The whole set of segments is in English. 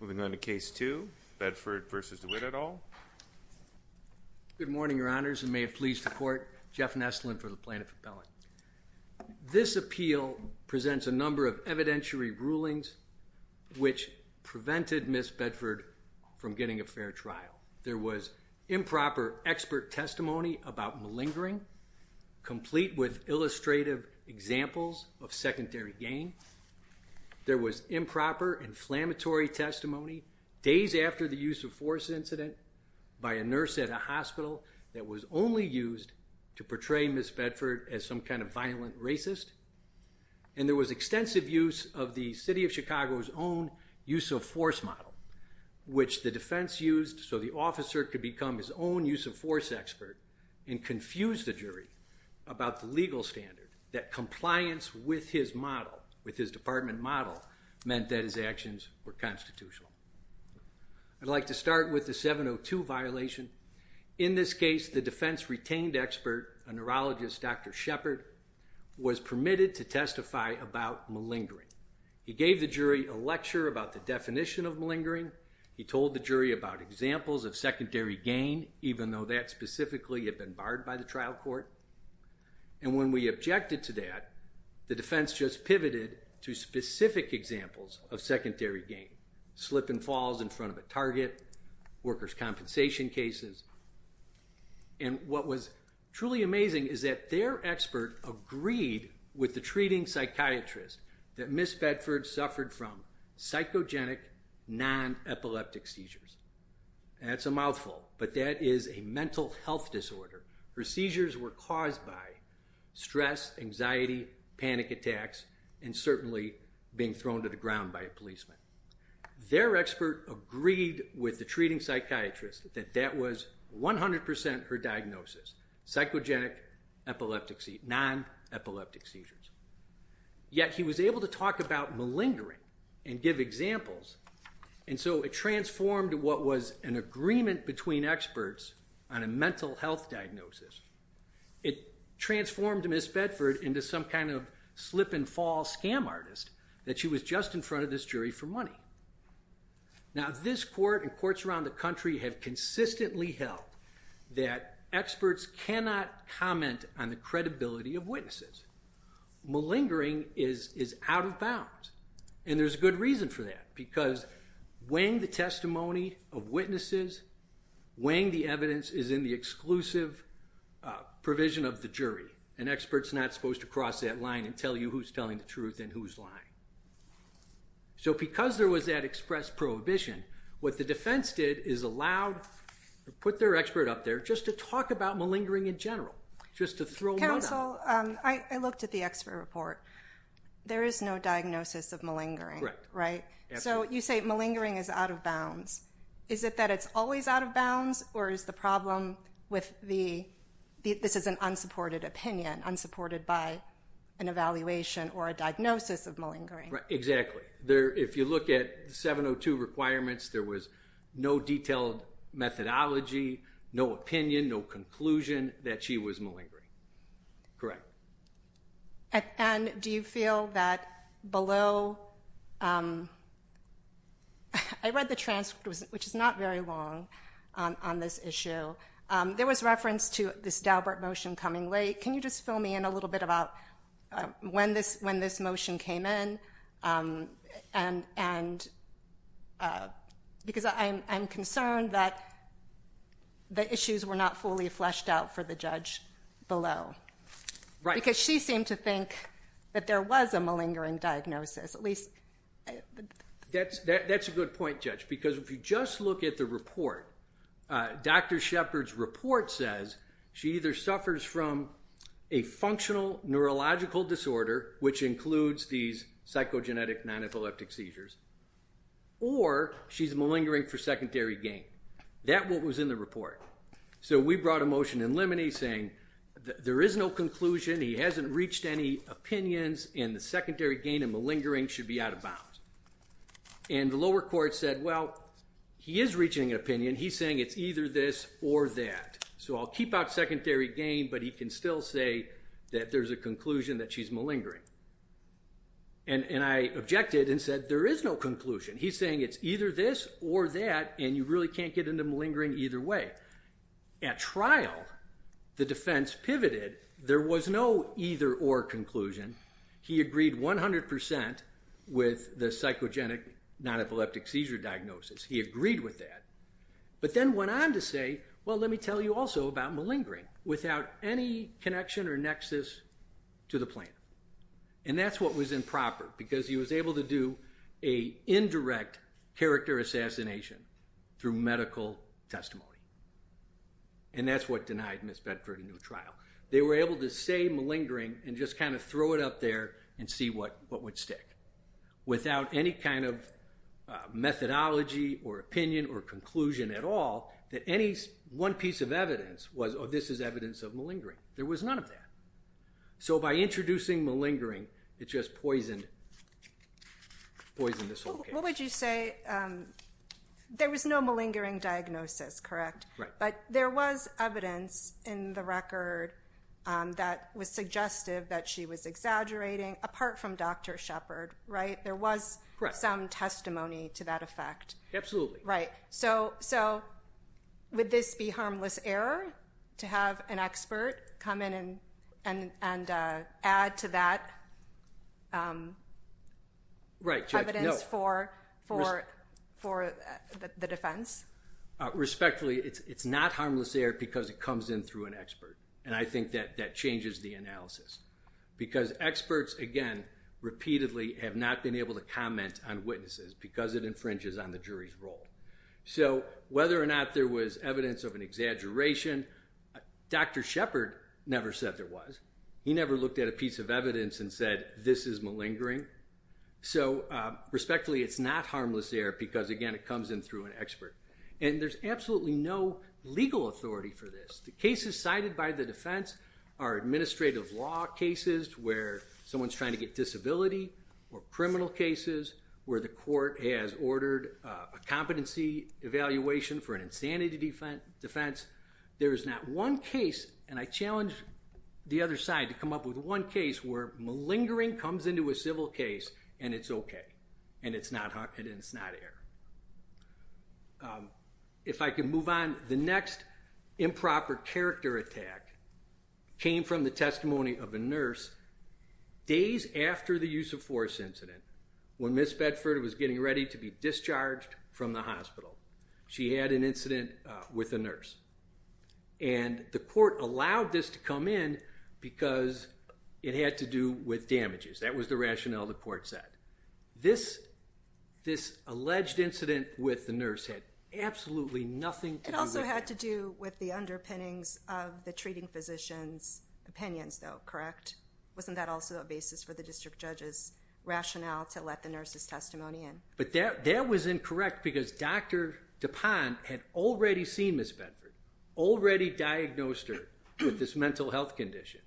Moving on to case two, Bedford v. Dewitt et al. Good morning, your honors, and may it please the court. Jeff Nestlin for the Plaintiff Appellate. This appeal presents a number of evidentiary rulings which prevented Miss Bedford from getting a fair trial. There was improper expert testimony about malingering, complete with illustrative examples of secondary gain. There was improper inflammatory testimony days after the use-of-force incident by a nurse at a hospital that was only used to portray Miss Bedford as some kind of violent racist. And there was extensive use of the City of Chicago's own use-of-force model, which the defense used so the officer could become his own use-of-force expert and confuse the jury about the legal standard that compliance with his model, with his department model, meant that his actions were constitutional. I'd like to start with the 702 violation. In this case, the defense retained expert, a neurologist, Dr. Shepard, was permitted to testify about malingering. He gave the jury a lecture about the definition of malingering. He told the jury about examples of secondary gain, even though that specifically had been barred by the trial court. And when we objected to that, the defense just pivoted to specific examples of secondary gain. Slip and falls in front of a target, workers' compensation cases. And what was truly amazing is that their expert agreed with the treating psychiatrist that Miss Bedford suffered from psychogenic, non-epileptic seizures. That's a mouthful, but that is a mental health disorder. Her seizures were caused by stress, anxiety, panic attacks, and certainly being thrown to the ground by a policeman. Their expert agreed with the treating psychiatrist that that was 100% her diagnosis, psychogenic, epileptic, non-epileptic seizures. Yet he was able to talk about malingering and give examples. And so it transformed what was an agreement between experts on a mental health diagnosis. It transformed Miss Bedford into some kind of slip and fall scam artist that she was just in front of this jury for money. Now this court and courts around the country have consistently held that experts cannot comment on the credibility of witnesses. Malingering is out of bounds, and there's a good reason for that, because weighing the testimony of witnesses, weighing the evidence, is in the exclusive provision of the jury. An expert's not supposed to cross that line and tell you who's telling the truth and who's lying. So because there was that express prohibition, what the defense did is allowed to put their expert up there just to talk about malingering in general, just to throw mud on it. Counsel, I looked at the expert report. There is no diagnosis of malingering, right? So you say malingering is out of bounds. Is it that it's always out of bounds, or is the problem with the, this is an unsupported opinion, unsupported by an evaluation or a diagnosis of malingering? Exactly. If you look at the 702 requirements, there was no detailed methodology, no opinion, no conclusion that she was malingering. Correct. And do you feel that below, I read the transcript, which is not very long, on this issue, there was reference to this Daubert motion coming late. Can you just fill me in a little bit about when this motion came in? Because I'm concerned that the issues were not fully fleshed out for the judge below. Right. Because she seemed to think that there was a malingering diagnosis, at least. That's a good point, Judge, because if you just look at the report, Dr. Shepard's report says she either suffers from a functional neurological disorder, which includes these psychogenetic non-epileptic seizures, or she's malingering for secondary gain. That was what was in the report. So we brought a motion in limine saying there is no conclusion, he hasn't reached any opinions, and the secondary gain and malingering should be out of bounds. And the lower court said, well, he is reaching an opinion, he's saying it's either this or that. So I'll keep out secondary gain, but he can still say that there's a conclusion that she's malingering. And I objected and said there is no conclusion. He's saying it's either this or that, and you really can't get into malingering either way. At trial, the defense pivoted. There was no either-or conclusion. He agreed 100% with the psychogenic non-epileptic seizure diagnosis. He agreed with that, but then went on to say, well, let me tell you also about malingering, without any connection or nexus to the plaintiff. And that's what was improper, because he was able to do a indirect character assassination through medical testimony. And that's what denied Ms. Bedford a new trial. They were able to say malingering and just kind of throw it up there and see what would stick. Without any kind of methodology or opinion or conclusion at all, that any one piece of evidence was, oh, this is evidence of malingering. There was none of that. So by introducing malingering, it just poisoned this whole case. What would you say, there was no malingering diagnosis, correct? Right. But there was evidence in the record that was suggestive that she was exaggerating, apart from Dr. Shepard, right? There was some testimony to that effect. Absolutely. Right. So would this be harmless error to have an expert come in and add to that evidence for the defense? Respectfully, it's not harmless error because it comes in through an expert. And I think that that changes the analysis. Because experts, again, repeatedly have not been able to comment on witnesses because it infringes on the jury's role. So whether or not there was evidence of an exaggeration, Dr. Shepard never said there was. He never looked at a piece of evidence and said, this is malingering. So respectfully, it's not harmless error because, again, it comes in through an expert. And there's absolutely no legal authority for this. The cases cited by the defense are administrative law cases where someone's trying to get disability or criminal cases where the court has ordered a competency evaluation for an insanity defense. There is not one case, and I challenge the other side to come up with one case where malingering comes into a civil case and it's okay and it's not error. If I could move on, the next improper character attack came from the testimony of a nurse days after the use of force incident when Ms. Bedford was getting ready to be discharged from the hospital. She had an incident with a nurse. And the court allowed this to come in because it had to do with damages. That was the rationale the court set. This alleged incident with the nurse had absolutely nothing to do with... Correct? Wasn't that also a basis for the district judge's rationale to let the nurse's testimony in? But that was incorrect because Dr. Dupont had already seen Ms. Bedford, already diagnosed her with this mental health condition.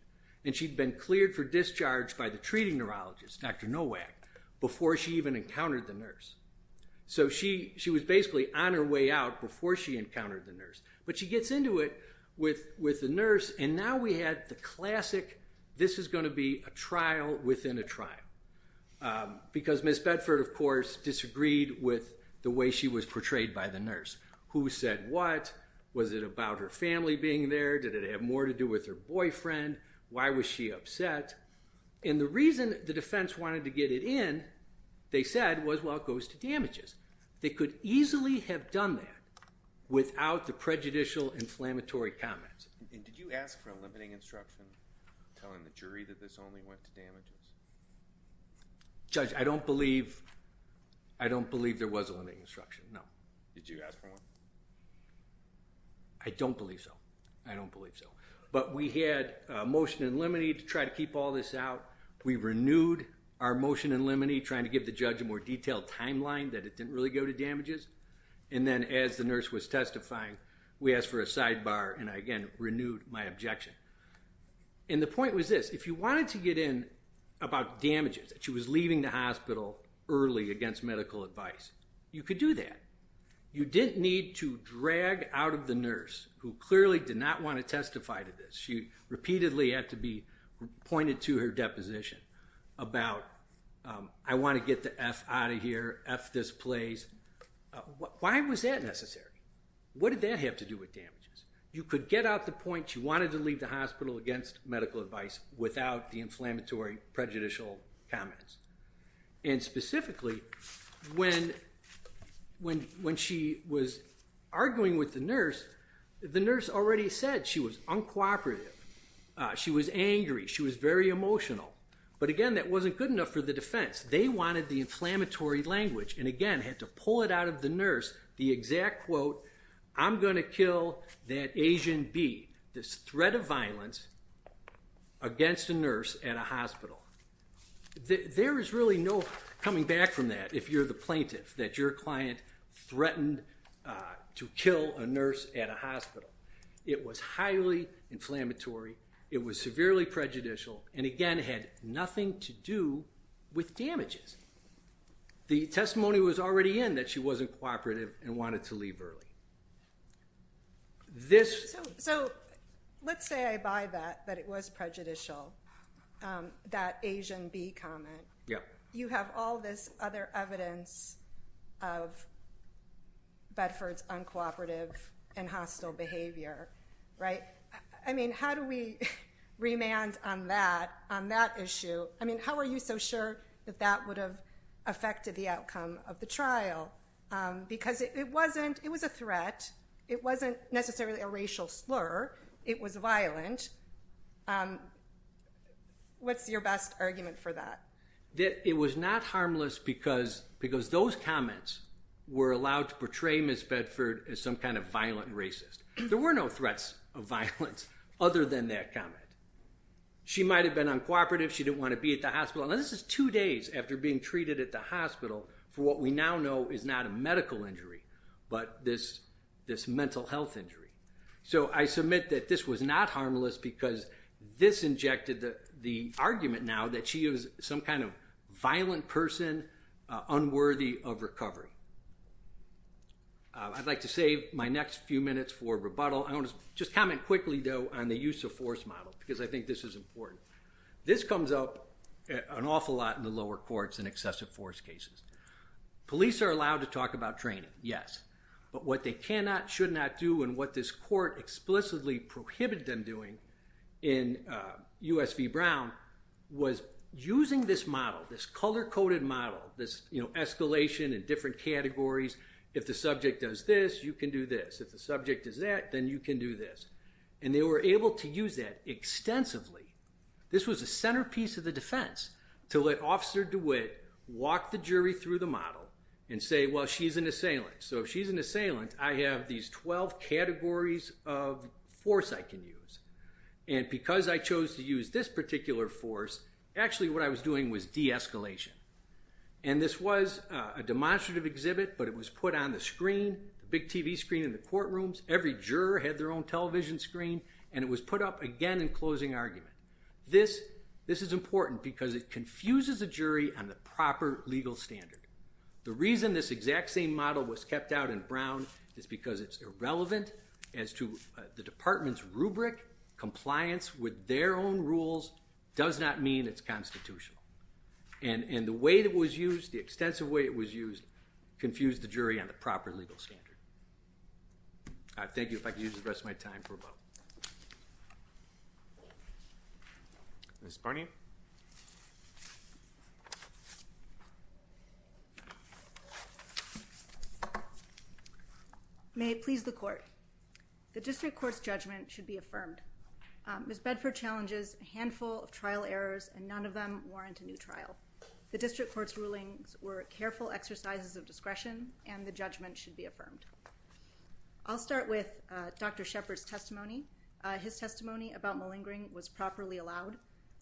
And she'd been cleared for discharge by the treating neurologist, Dr. Nowak, before she even encountered the nurse. So she was basically on her way out before she encountered the nurse. But she gets into it with the nurse, and now we had the classic, this is going to be a trial within a trial. Because Ms. Bedford, of course, disagreed with the way she was portrayed by the nurse. Who said what? Was it about her family being there? Did it have more to do with her boyfriend? Why was she upset? And the reason the defense wanted to get it in, they said, was well, it goes to damages. They could easily have done that without the prejudicial inflammatory comments. And did you ask for a limiting instruction, telling the jury that this only went to damages? Judge, I don't believe, I don't believe there was a limiting instruction. No. Did you ask for one? I don't believe so. I don't believe so. But we had a motion in limine to try to keep all this out. We renewed our motion in limine, trying to give the judge a more detailed timeline that it didn't really go to damages. And then as the nurse was testifying, we asked for a sidebar. And again, renewed my objection. And the point was this, if you wanted to get in about damages, that she was leaving the hospital early against medical advice, you could do that. You didn't need to drag out of the nurse, who clearly did not want to testify to this. She repeatedly had to be pointed to her deposition about, I want to get the F out of here, F this place. Why was that necessary? What did that have to do with damages? You could get out the point she wanted to leave the hospital against medical advice without the inflammatory prejudicial comments. And specifically, when she was arguing with the nurse, the nurse already said she was uncooperative. She was angry. She was very emotional. But again, that wasn't good enough for the defense. They wanted the inflammatory language. And again, had to pull it out of the nurse, the exact quote, I'm going to kill that Asian bee. This threat of violence against a nurse at a hospital. There is really no coming back from that, if you're the plaintiff, that your client threatened to kill a nurse at a hospital. It was highly inflammatory. It was severely prejudicial. And again, had nothing to do with damages. The testimony was already in that she wasn't cooperative and wanted to leave early. So let's say I buy that, that it was prejudicial, that Asian bee comment. You have all this other evidence of Bedford's uncooperative and hostile behavior, right? I mean, how do we remand on that, on that issue? I mean, how are you so sure that that would have affected the outcome of the trial? Because it wasn't, it was a threat. It wasn't necessarily a racial slur. It was violent. What's your best argument for that? It was not harmless because those comments were allowed to portray Ms. Bedford as some kind of violent racist. There were no threats of violence other than that comment. She might have been uncooperative. She didn't want to be at the hospital. And this is two days after being treated at the hospital for what we now know is not a medical injury, but this mental health injury. So I submit that this was not harmless because this injected the argument now that she is some kind of violent person, unworthy of recovery. I'd like to save my next few minutes for rebuttal. I want to just comment quickly though on the use of force model because I think this is important. This comes up an awful lot in the lower courts in excessive force cases. Police are allowed to talk about training, yes. But what they cannot, should not do, and what this court explicitly prohibited them doing in US v. Brown was using this model, this color-coded model, this escalation in different categories. If the subject does this, you can do this. If the subject does that, then you can do this. And they were able to use that extensively. This was a centerpiece of the defense to let Officer DeWitt walk the jury through the model and say, well, she's an assailant. So if she's an assailant, I have these 12 categories of force I can use. And because I chose to use this particular force, actually what I was doing was de-escalation. And this was a demonstrative exhibit, but it was put on the screen, the big TV screen in the courtrooms. Every juror had their own television screen. And it was put up again in closing argument. This is important because it confuses the jury on the proper legal standard. The reason this exact same model was kept out in Brown is because it's irrelevant as to the department's rubric. Compliance with their own rules does not mean it's constitutional. And the way it was used, the extensive way it was used, confused the jury on the proper legal standard. All right, thank you. If I could use the rest of my time for a moment. Ms. Barney? May it please the court. The district court's judgment should be affirmed. Ms. Bedford challenges a handful of trial errors, and none of them warrant a new trial. The district court's rulings were careful exercises of discretion, and the judgment should be affirmed. I'll start with Dr. Shepard's testimony. His testimony about malingering was properly allowed.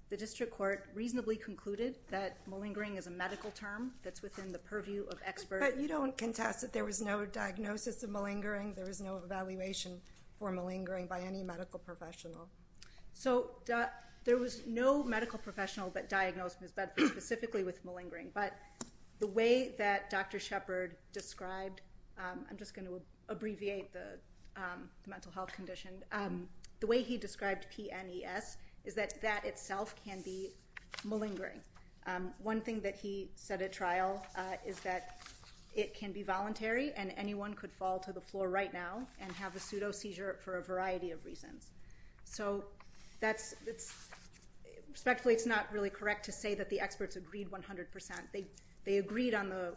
The district court reasonably concluded that malingering is a medical term that's within the purview of experts. But you don't contest that there was no diagnosis of malingering, there was no evaluation for malingering by any medical professional. So there was no medical professional that diagnosed Ms. Bedford specifically with malingering, but the way that Dr. Shepard described, I'm just going to abbreviate the mental health condition, the way he described PNES is that that itself can be malingering. One thing that he said at trial is that it can be voluntary, and anyone could fall to the floor right now and have a pseudo-seizure for a variety of reasons. So respectfully it's not really correct to say that the experts agreed 100%. They agreed on the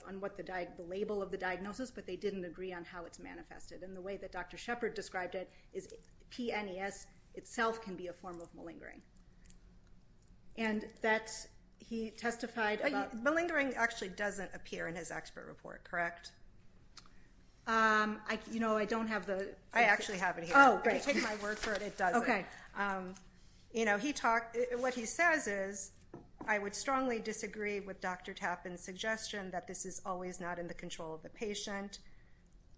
label of the diagnosis, but they didn't agree on how it's manifested. And the way that Dr. Shepard described it is PNES itself can be a form of malingering. Malingering actually doesn't appear in his paper. I actually have it here. If you take my word for it, it doesn't. What he says is, I would strongly disagree with Dr. Tappan's suggestion that this is always not in the control of the patient.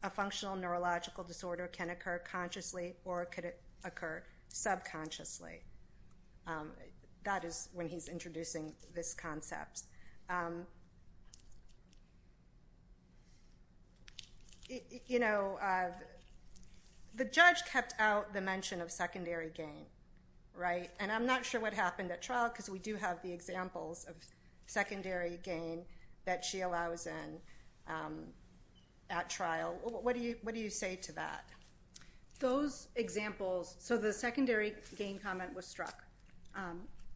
A functional neurological disorder can occur consciously or it could occur subconsciously. That is when he's introducing this concept. You know, the judge kept out the mention of secondary gain, right? And I'm not sure what happened at trial, because we do have the examples of secondary gain that she allows in at trial. What do you say to that? Those examples, so the secondary gain comment was struck.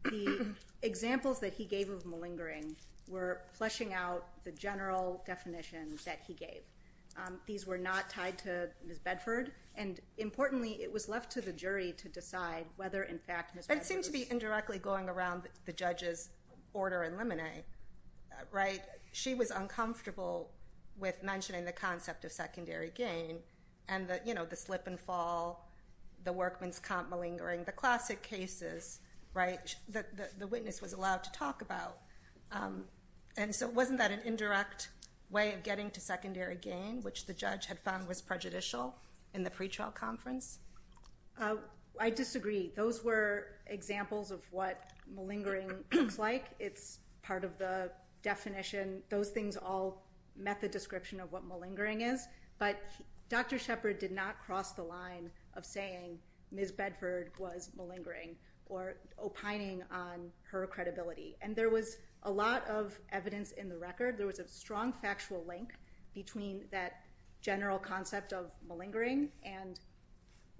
The examples that he gave of malingering were fleshing out the general definition that he gave. These were not tied to Ms. Bedford, and importantly, it was left to the jury to decide whether in fact Ms. Bedford was... It seemed to be indirectly going around the judge's order in Lemonet, right? She was uncomfortable with mentioning the concept of secondary gain and the slip and fall, the workman's comp malingering, the classic cases, right, that the witness was allowed to talk about. And so wasn't that an indirect way of getting to secondary gain, which the judge had found was prejudicial in the pretrial conference? I disagree. Those were examples of what malingering looks like. It's part of the definition. Those things all met the description of what malingering is, but Dr. Shepard did not cross the line of saying Ms. Bedford was malingering or opining on her credibility. And there was a lot of evidence in the record. There was a strong factual link between that general concept of malingering and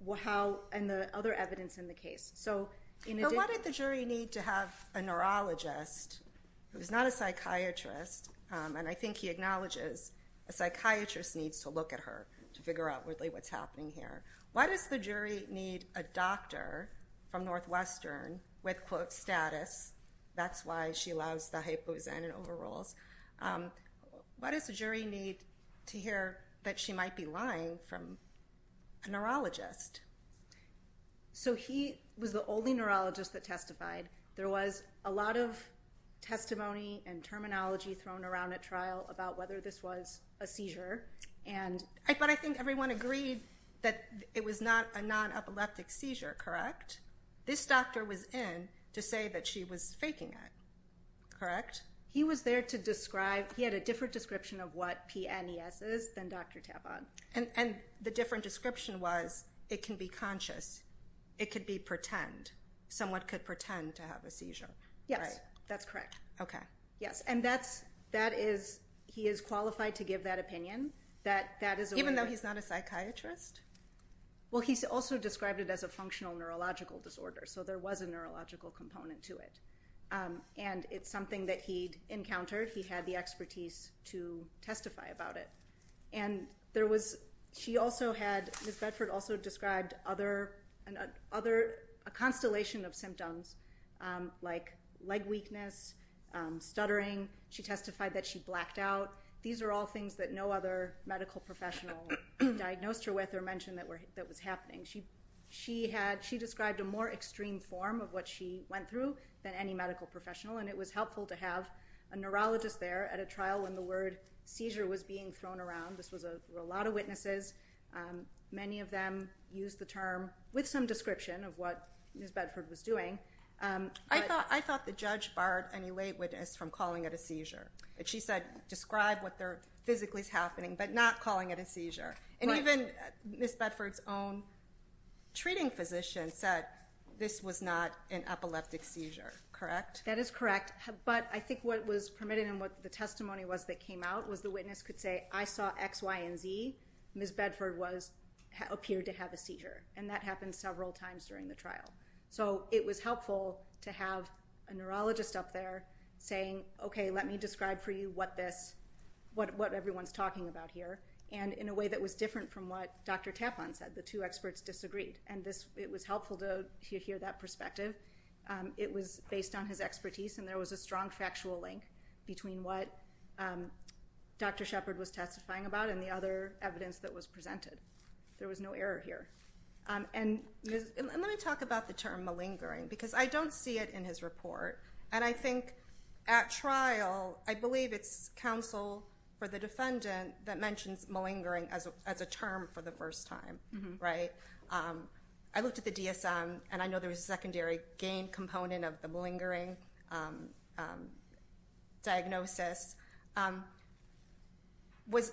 the other evidence in the case. So what did the jury need to have a neurologist who's not a psychiatrist, and I think he acknowledges a psychiatrist needs to look at her to figure out really what's happening here. Why does the jury need a doctor from Northwestern with, quote, status? That's why she loves the hypo and overrules. Why does the jury need to hear that she might be lying from a neurologist? So he was the only neurologist that testified. There was a lot of testimony and terminology thrown around at trial about whether this was a seizure. But I think everyone agreed that it was not a non-epileptic seizure, correct? This doctor was in to say that she was faking it, correct? He was there to describe, he had a different description of what PNES is than Dr. Tavon. And the different description was it can be conscious, it could be pretend. Someone could pretend to have a seizure, right? That's correct. Yes, and that is, he is qualified to give that opinion. Even though he's not a psychiatrist? Well, he also described it as a functional neurological disorder, so there was a neurological component to it. And it's something that he'd encountered. He had the expertise to testify about it. And there was, she also had, Ms. Bedford also described other, a constellation of symptoms like leg weakness, stuttering. She testified that she blacked out. These are all things that no other medical professional diagnosed her with or mentioned that was happening. She described a more extreme form of what she went through than any medical professional. And it was helpful to have a neurologist there at a trial when the word seizure was being thrown around. This was a lot of witnesses. Many of them used the term with some description of what Ms. Bedford was doing. I thought the judge barred any lay witness from calling it a seizure. She said, describe what physically is happening, but not calling it a seizure. And even Ms. Bedford's own treating physician said this was not an epileptic seizure, correct? That is correct. But I think what was permitted and what the testimony was that came out was the witness could say, I saw X, Y, and Z. Ms. Bedford appeared to have a seizure. And that happened several times during the trial. So it was helpful to have a neurologist up there saying, okay, let me describe for you what this, what everyone's talking about here. And in a way that was different from what Dr. Taplan said, the two experts disagreed. And this, it was helpful to hear that perspective. It was based on his expertise and there was a strong factual link between what Dr. Shepard was testifying about and the other evidence that was presented. There was no error here. And let me talk about the term malingering, because I don't see it in his report. And I think at trial, I believe it's counsel for the defendant that mentions malingering as a term for the first time, right? I looked at the DSM and I know there was a secondary gain component of the malingering diagnosis. Was,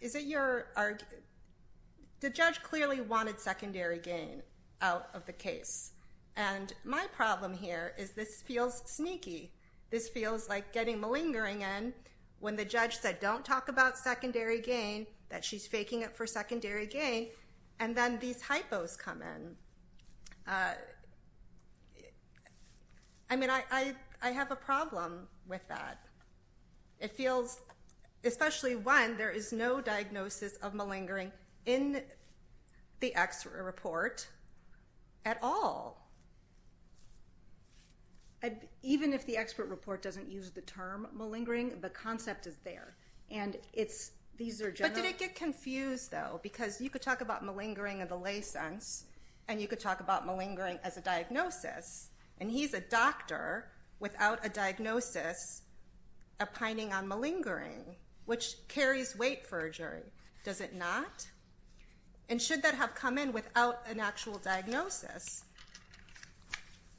is it your opinion that there was malingering or are, the judge clearly wanted secondary gain out of the case. And my problem here is this feels sneaky. This feels like getting malingering in when the judge said, don't talk about secondary gain, that she's faking it for secondary gain. And then these hypos come in. I mean, I have a problem with that. It feels, especially when there is no diagnosis of malingering in the expert report at all. Even if the expert report doesn't use the term malingering, the concept is there. And it's, these are general. But did it get confused though? Because you could talk about malingering in the lay sense and you could talk about malingering as a diagnosis and he's a doctor without a diagnosis opining on malingering, which carries weight for a jury. Does it not? And should that have come in without an actual diagnosis?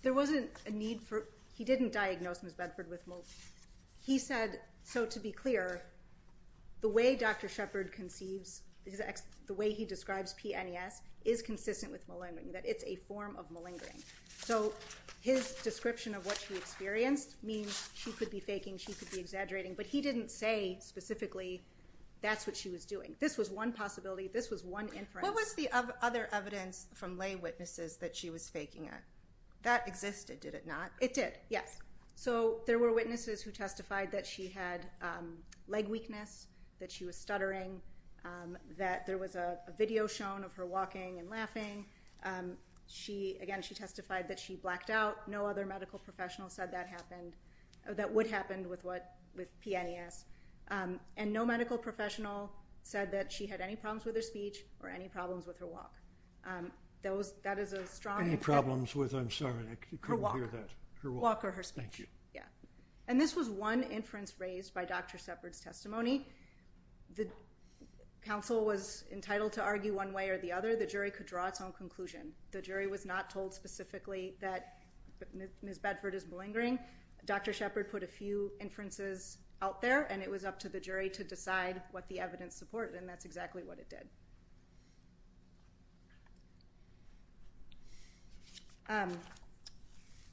There wasn't a need for, he didn't diagnose Ms. Bedford with malingering. He said, so to be clear, the way Dr. Shepard conceives, the way he describes PNES is consistent with malingering, that it's a form of malingering. So his description of what she experienced means she could be faking, she could be exaggerating, but he didn't say specifically that's what she was doing. This was one possibility. This was one inference. What was the other evidence from lay witnesses that she was faking it? That existed, did it not? It did, yes. So there were witnesses who testified that she had leg weakness, that she was stuttering, that there was a video shown of her walking and laughing. She, again, she testified that she blacked out. No other medical professional said that happened, that would happen with what, with PNES. And no medical professional said that she had any problems with her speech or any problems with her walk. That was, that is a strong- Any problems with, I'm sorry, I couldn't hear that. Her walk or her speech. Thank you. And this was one inference raised by Dr. Shepard's testimony. The counsel was entitled to argue one way or the other. The jury could draw its own conclusion. The jury was not told specifically that Ms. Bedford is malingering. Dr. Shepard put a few inferences out there and it was up to the jury to decide what the evidence supported and that's exactly what it did.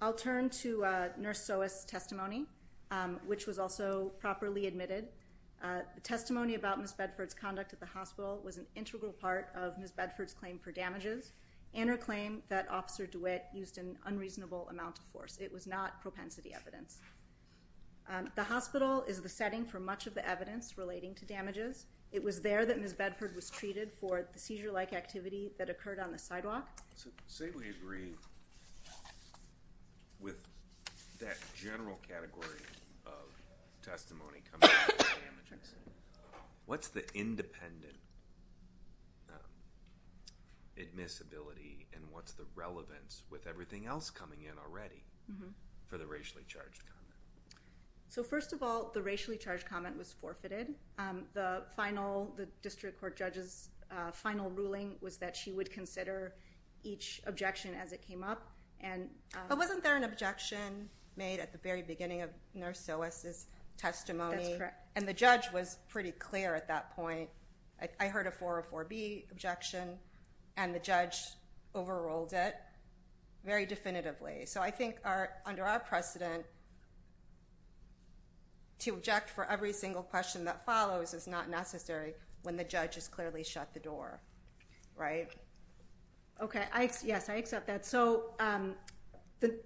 I'll turn to Nurse Soas' testimony, which was also properly admitted. The testimony about Ms. Bedford's conduct at the hospital was an integral part of Ms. Bedford's claim for damages and her claim that Officer DeWitt used an unreasonable amount of force. It was not propensity evidence. The hospital is the setting for much of the evidence relating to damages. It was there that Ms. Bedford was treated for the seizure-like activity that occurred on the sidewalk. Say we agree with that general category of testimony. What's the independent admissibility and what's the relevance with everything else coming in already for the racially charged comment? So first of all, the racially charged comment was forfeited. The final, the district court judge's final ruling was that she would consider each objection as it came up and... But wasn't there an objection made at the very beginning of Nurse Soas' testimony? That's correct. And the judge was pretty clear at that point. I heard a 404B objection and the judge overruled it very definitively. So I think under our precedent, to object for every single question that follows is not necessary when the judge has clearly shut the door, right? Okay. Yes, I accept that. So the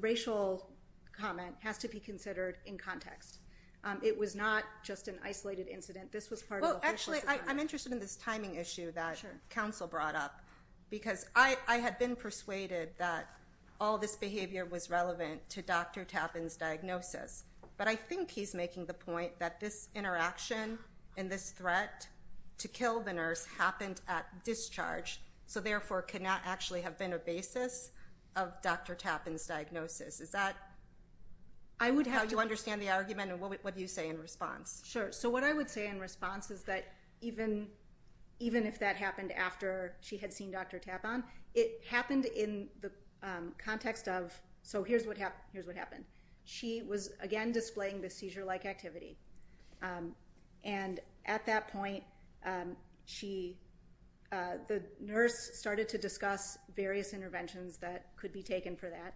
racial comment has to be considered in context. It was not just an isolated incident. This was part of the whole system. Well, actually, I'm interested in this timing issue that counsel brought up because I had been persuaded that all this behavior was relevant to Dr. Tappan's diagnosis, but I think he's making the point that this interaction and this threat to kill the nurse happened at discharge, so therefore could not actually have been a basis of Dr. Tappan's diagnosis. Is that how you understand the argument and what do you say in response? Sure. So what I would say in response is that even if that happened after she had seen Dr. Tappan, it happened in the context of, so here's what happened. She was, again, displaying the seizure-like activity, and at that point, the nurse started to discuss various interventions that could be taken for that,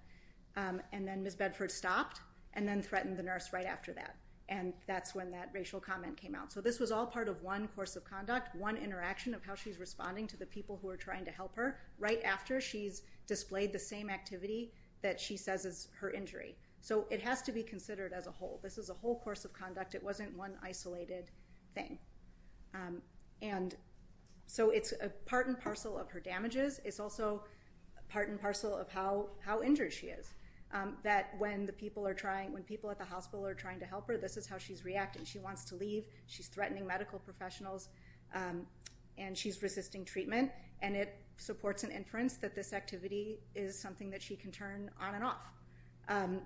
and then Ms. Bedford stopped and then threatened the nurse right after that, and that's when that racial comment came out. So this was all part of one course of conduct, one interaction of how she's responding to the people who are trying to help her right after she's displayed the same activity that she says is her injury. So it has to be considered as a whole. This is a whole course of conduct. It wasn't one isolated thing. And so it's part and parcel of her damages. It's also part and parcel of how injured she is, that when the people are trying, when people at the hospital are trying to help her, this is how she's reacting. She wants to leave. She's threatening medical professionals, and she's resisting treatment, and it supports an inference that this activity is something that she can turn on and off.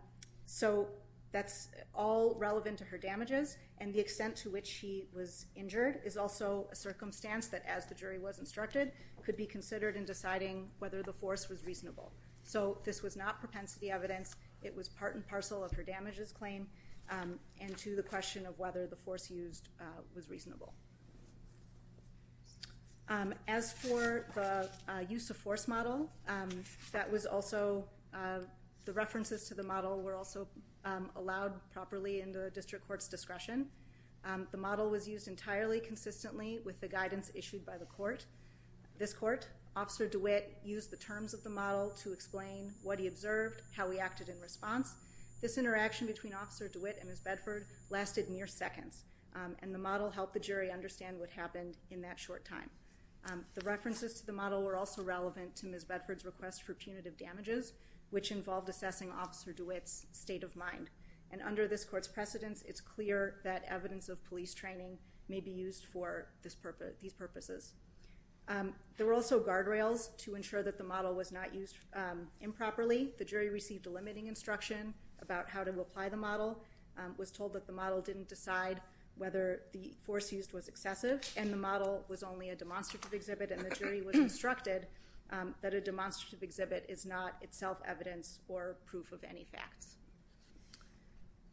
So that's all relevant to her damages, and the extent to which she was injured is also a circumstance that, as the jury was instructed, could be considered in deciding whether the force was reasonable. So this was not propensity evidence. It was part and parcel of her damages claim and to the question of whether the force used was reasonable. As for the use of force model, that was also, the references to the model were also allowed properly in the district court's discretion. The model was used entirely consistently with the guidance issued by the court. This court, Officer DeWitt used the terms of the model to explain what he observed, how he acted in response. This interaction between Officer DeWitt and Ms. Bedford lasted mere seconds, and the model helped the jury understand what happened in that short time. The references to the model were also relevant to Ms. Bedford's request for punitive damages, which involved assessing Officer DeWitt's state of mind, and under this court's precedence, it's clear that evidence of police training may be used for these purposes. There were also guardrails to ensure that the model was not used improperly. The jury received a limiting instruction about how to apply the model, was told that the model didn't decide whether the force used was excessive, and the model was only a demonstrative exhibit, and the jury was instructed that a demonstrative exhibit is not itself evidence or proof of any facts.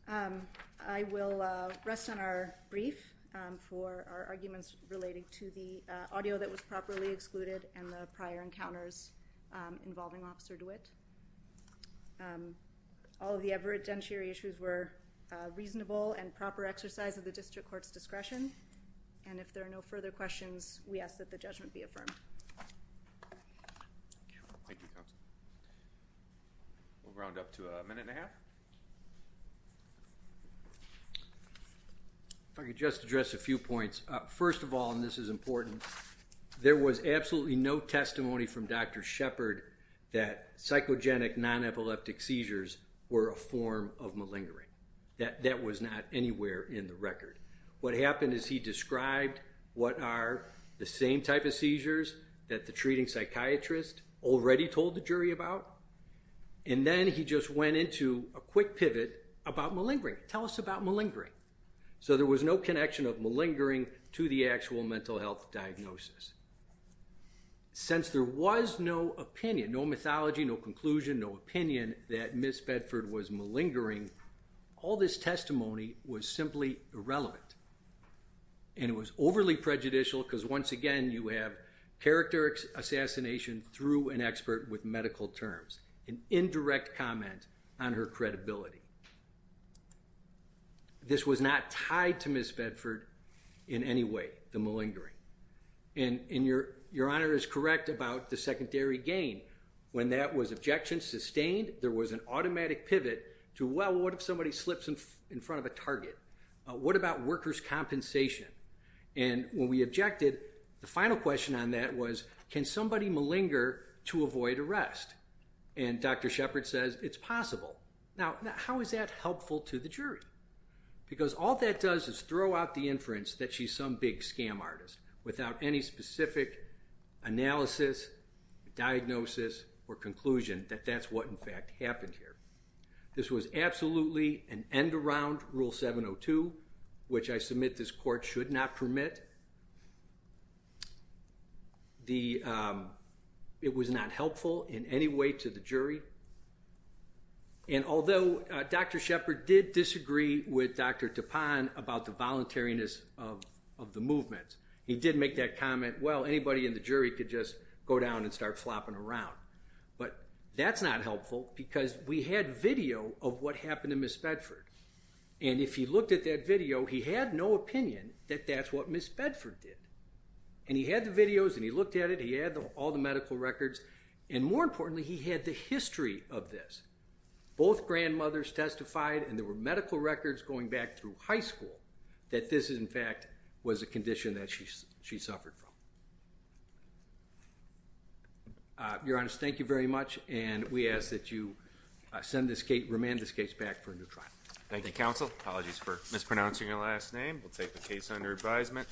I will rest on our brief for our arguments relating to the audio that was properly excluded and the prior encounters involving Officer DeWitt. All of the evidentiary issues were reasonable and proper exercise of the district court's discretion, and if there are no further questions, we ask that the judgment be affirmed. Thank you, Counsel. We'll round up to a minute and a half. If first of all, and this is important, there was absolutely no testimony from Dr. Shepard that psychogenic non-epileptic seizures were a form of malingering. That was not anywhere in the record. What happened is he described what are the same type of seizures that the treating psychiatrist already told the jury about, and then he just went into a quick pivot about malingering. Tell us about malingering. So there was no connection of malingering to the actual mental health diagnosis. Since there was no opinion, no mythology, no conclusion, no opinion that Ms. Bedford was malingering, all this testimony was simply irrelevant, and it was overly prejudicial because once again, you have character assassination through an expert with medical terms, an indirect comment on her credibility. This was not tied to Ms. Bedford in any way, the malingering. And Your Honor is correct about the secondary gain. When that was objection sustained, there was an automatic pivot to, well, what if somebody slips in front of a target? What about workers' compensation? And when we objected, the final question on that was, can somebody malinger to avoid arrest? And Dr. Shepard says it's possible. Now, how is that helpful to the jury? Because all that does is throw out the inference that she's some big scam artist without any specific analysis, diagnosis, or conclusion that that's what in fact happened here. This was absolutely an end-around Rule 702, which I submit this court should not permit. It was not helpful in any way to the jury. And although Dr. Shepard did disagree with Dr. Tapan about the voluntariness of the movement, he did make that comment, well, anybody in the jury could just go down and start flopping around. But that's not helpful because we had video of what happened to Ms. Bedford. And if you looked at that video, he had no opinion that that's what Ms. Bedford did. And he had the videos, and he looked at it, he had all the medical records, and more importantly, he had the history of this. Both grandmothers testified, and there were medical records going back through high that this, in fact, was a condition that she suffered from. Your Honor, thank you very much, and we ask that you send this case, remand this case back for a new trial. Thank you, counsel. Apologies for mispronouncing your last name. We'll take the case under advisement.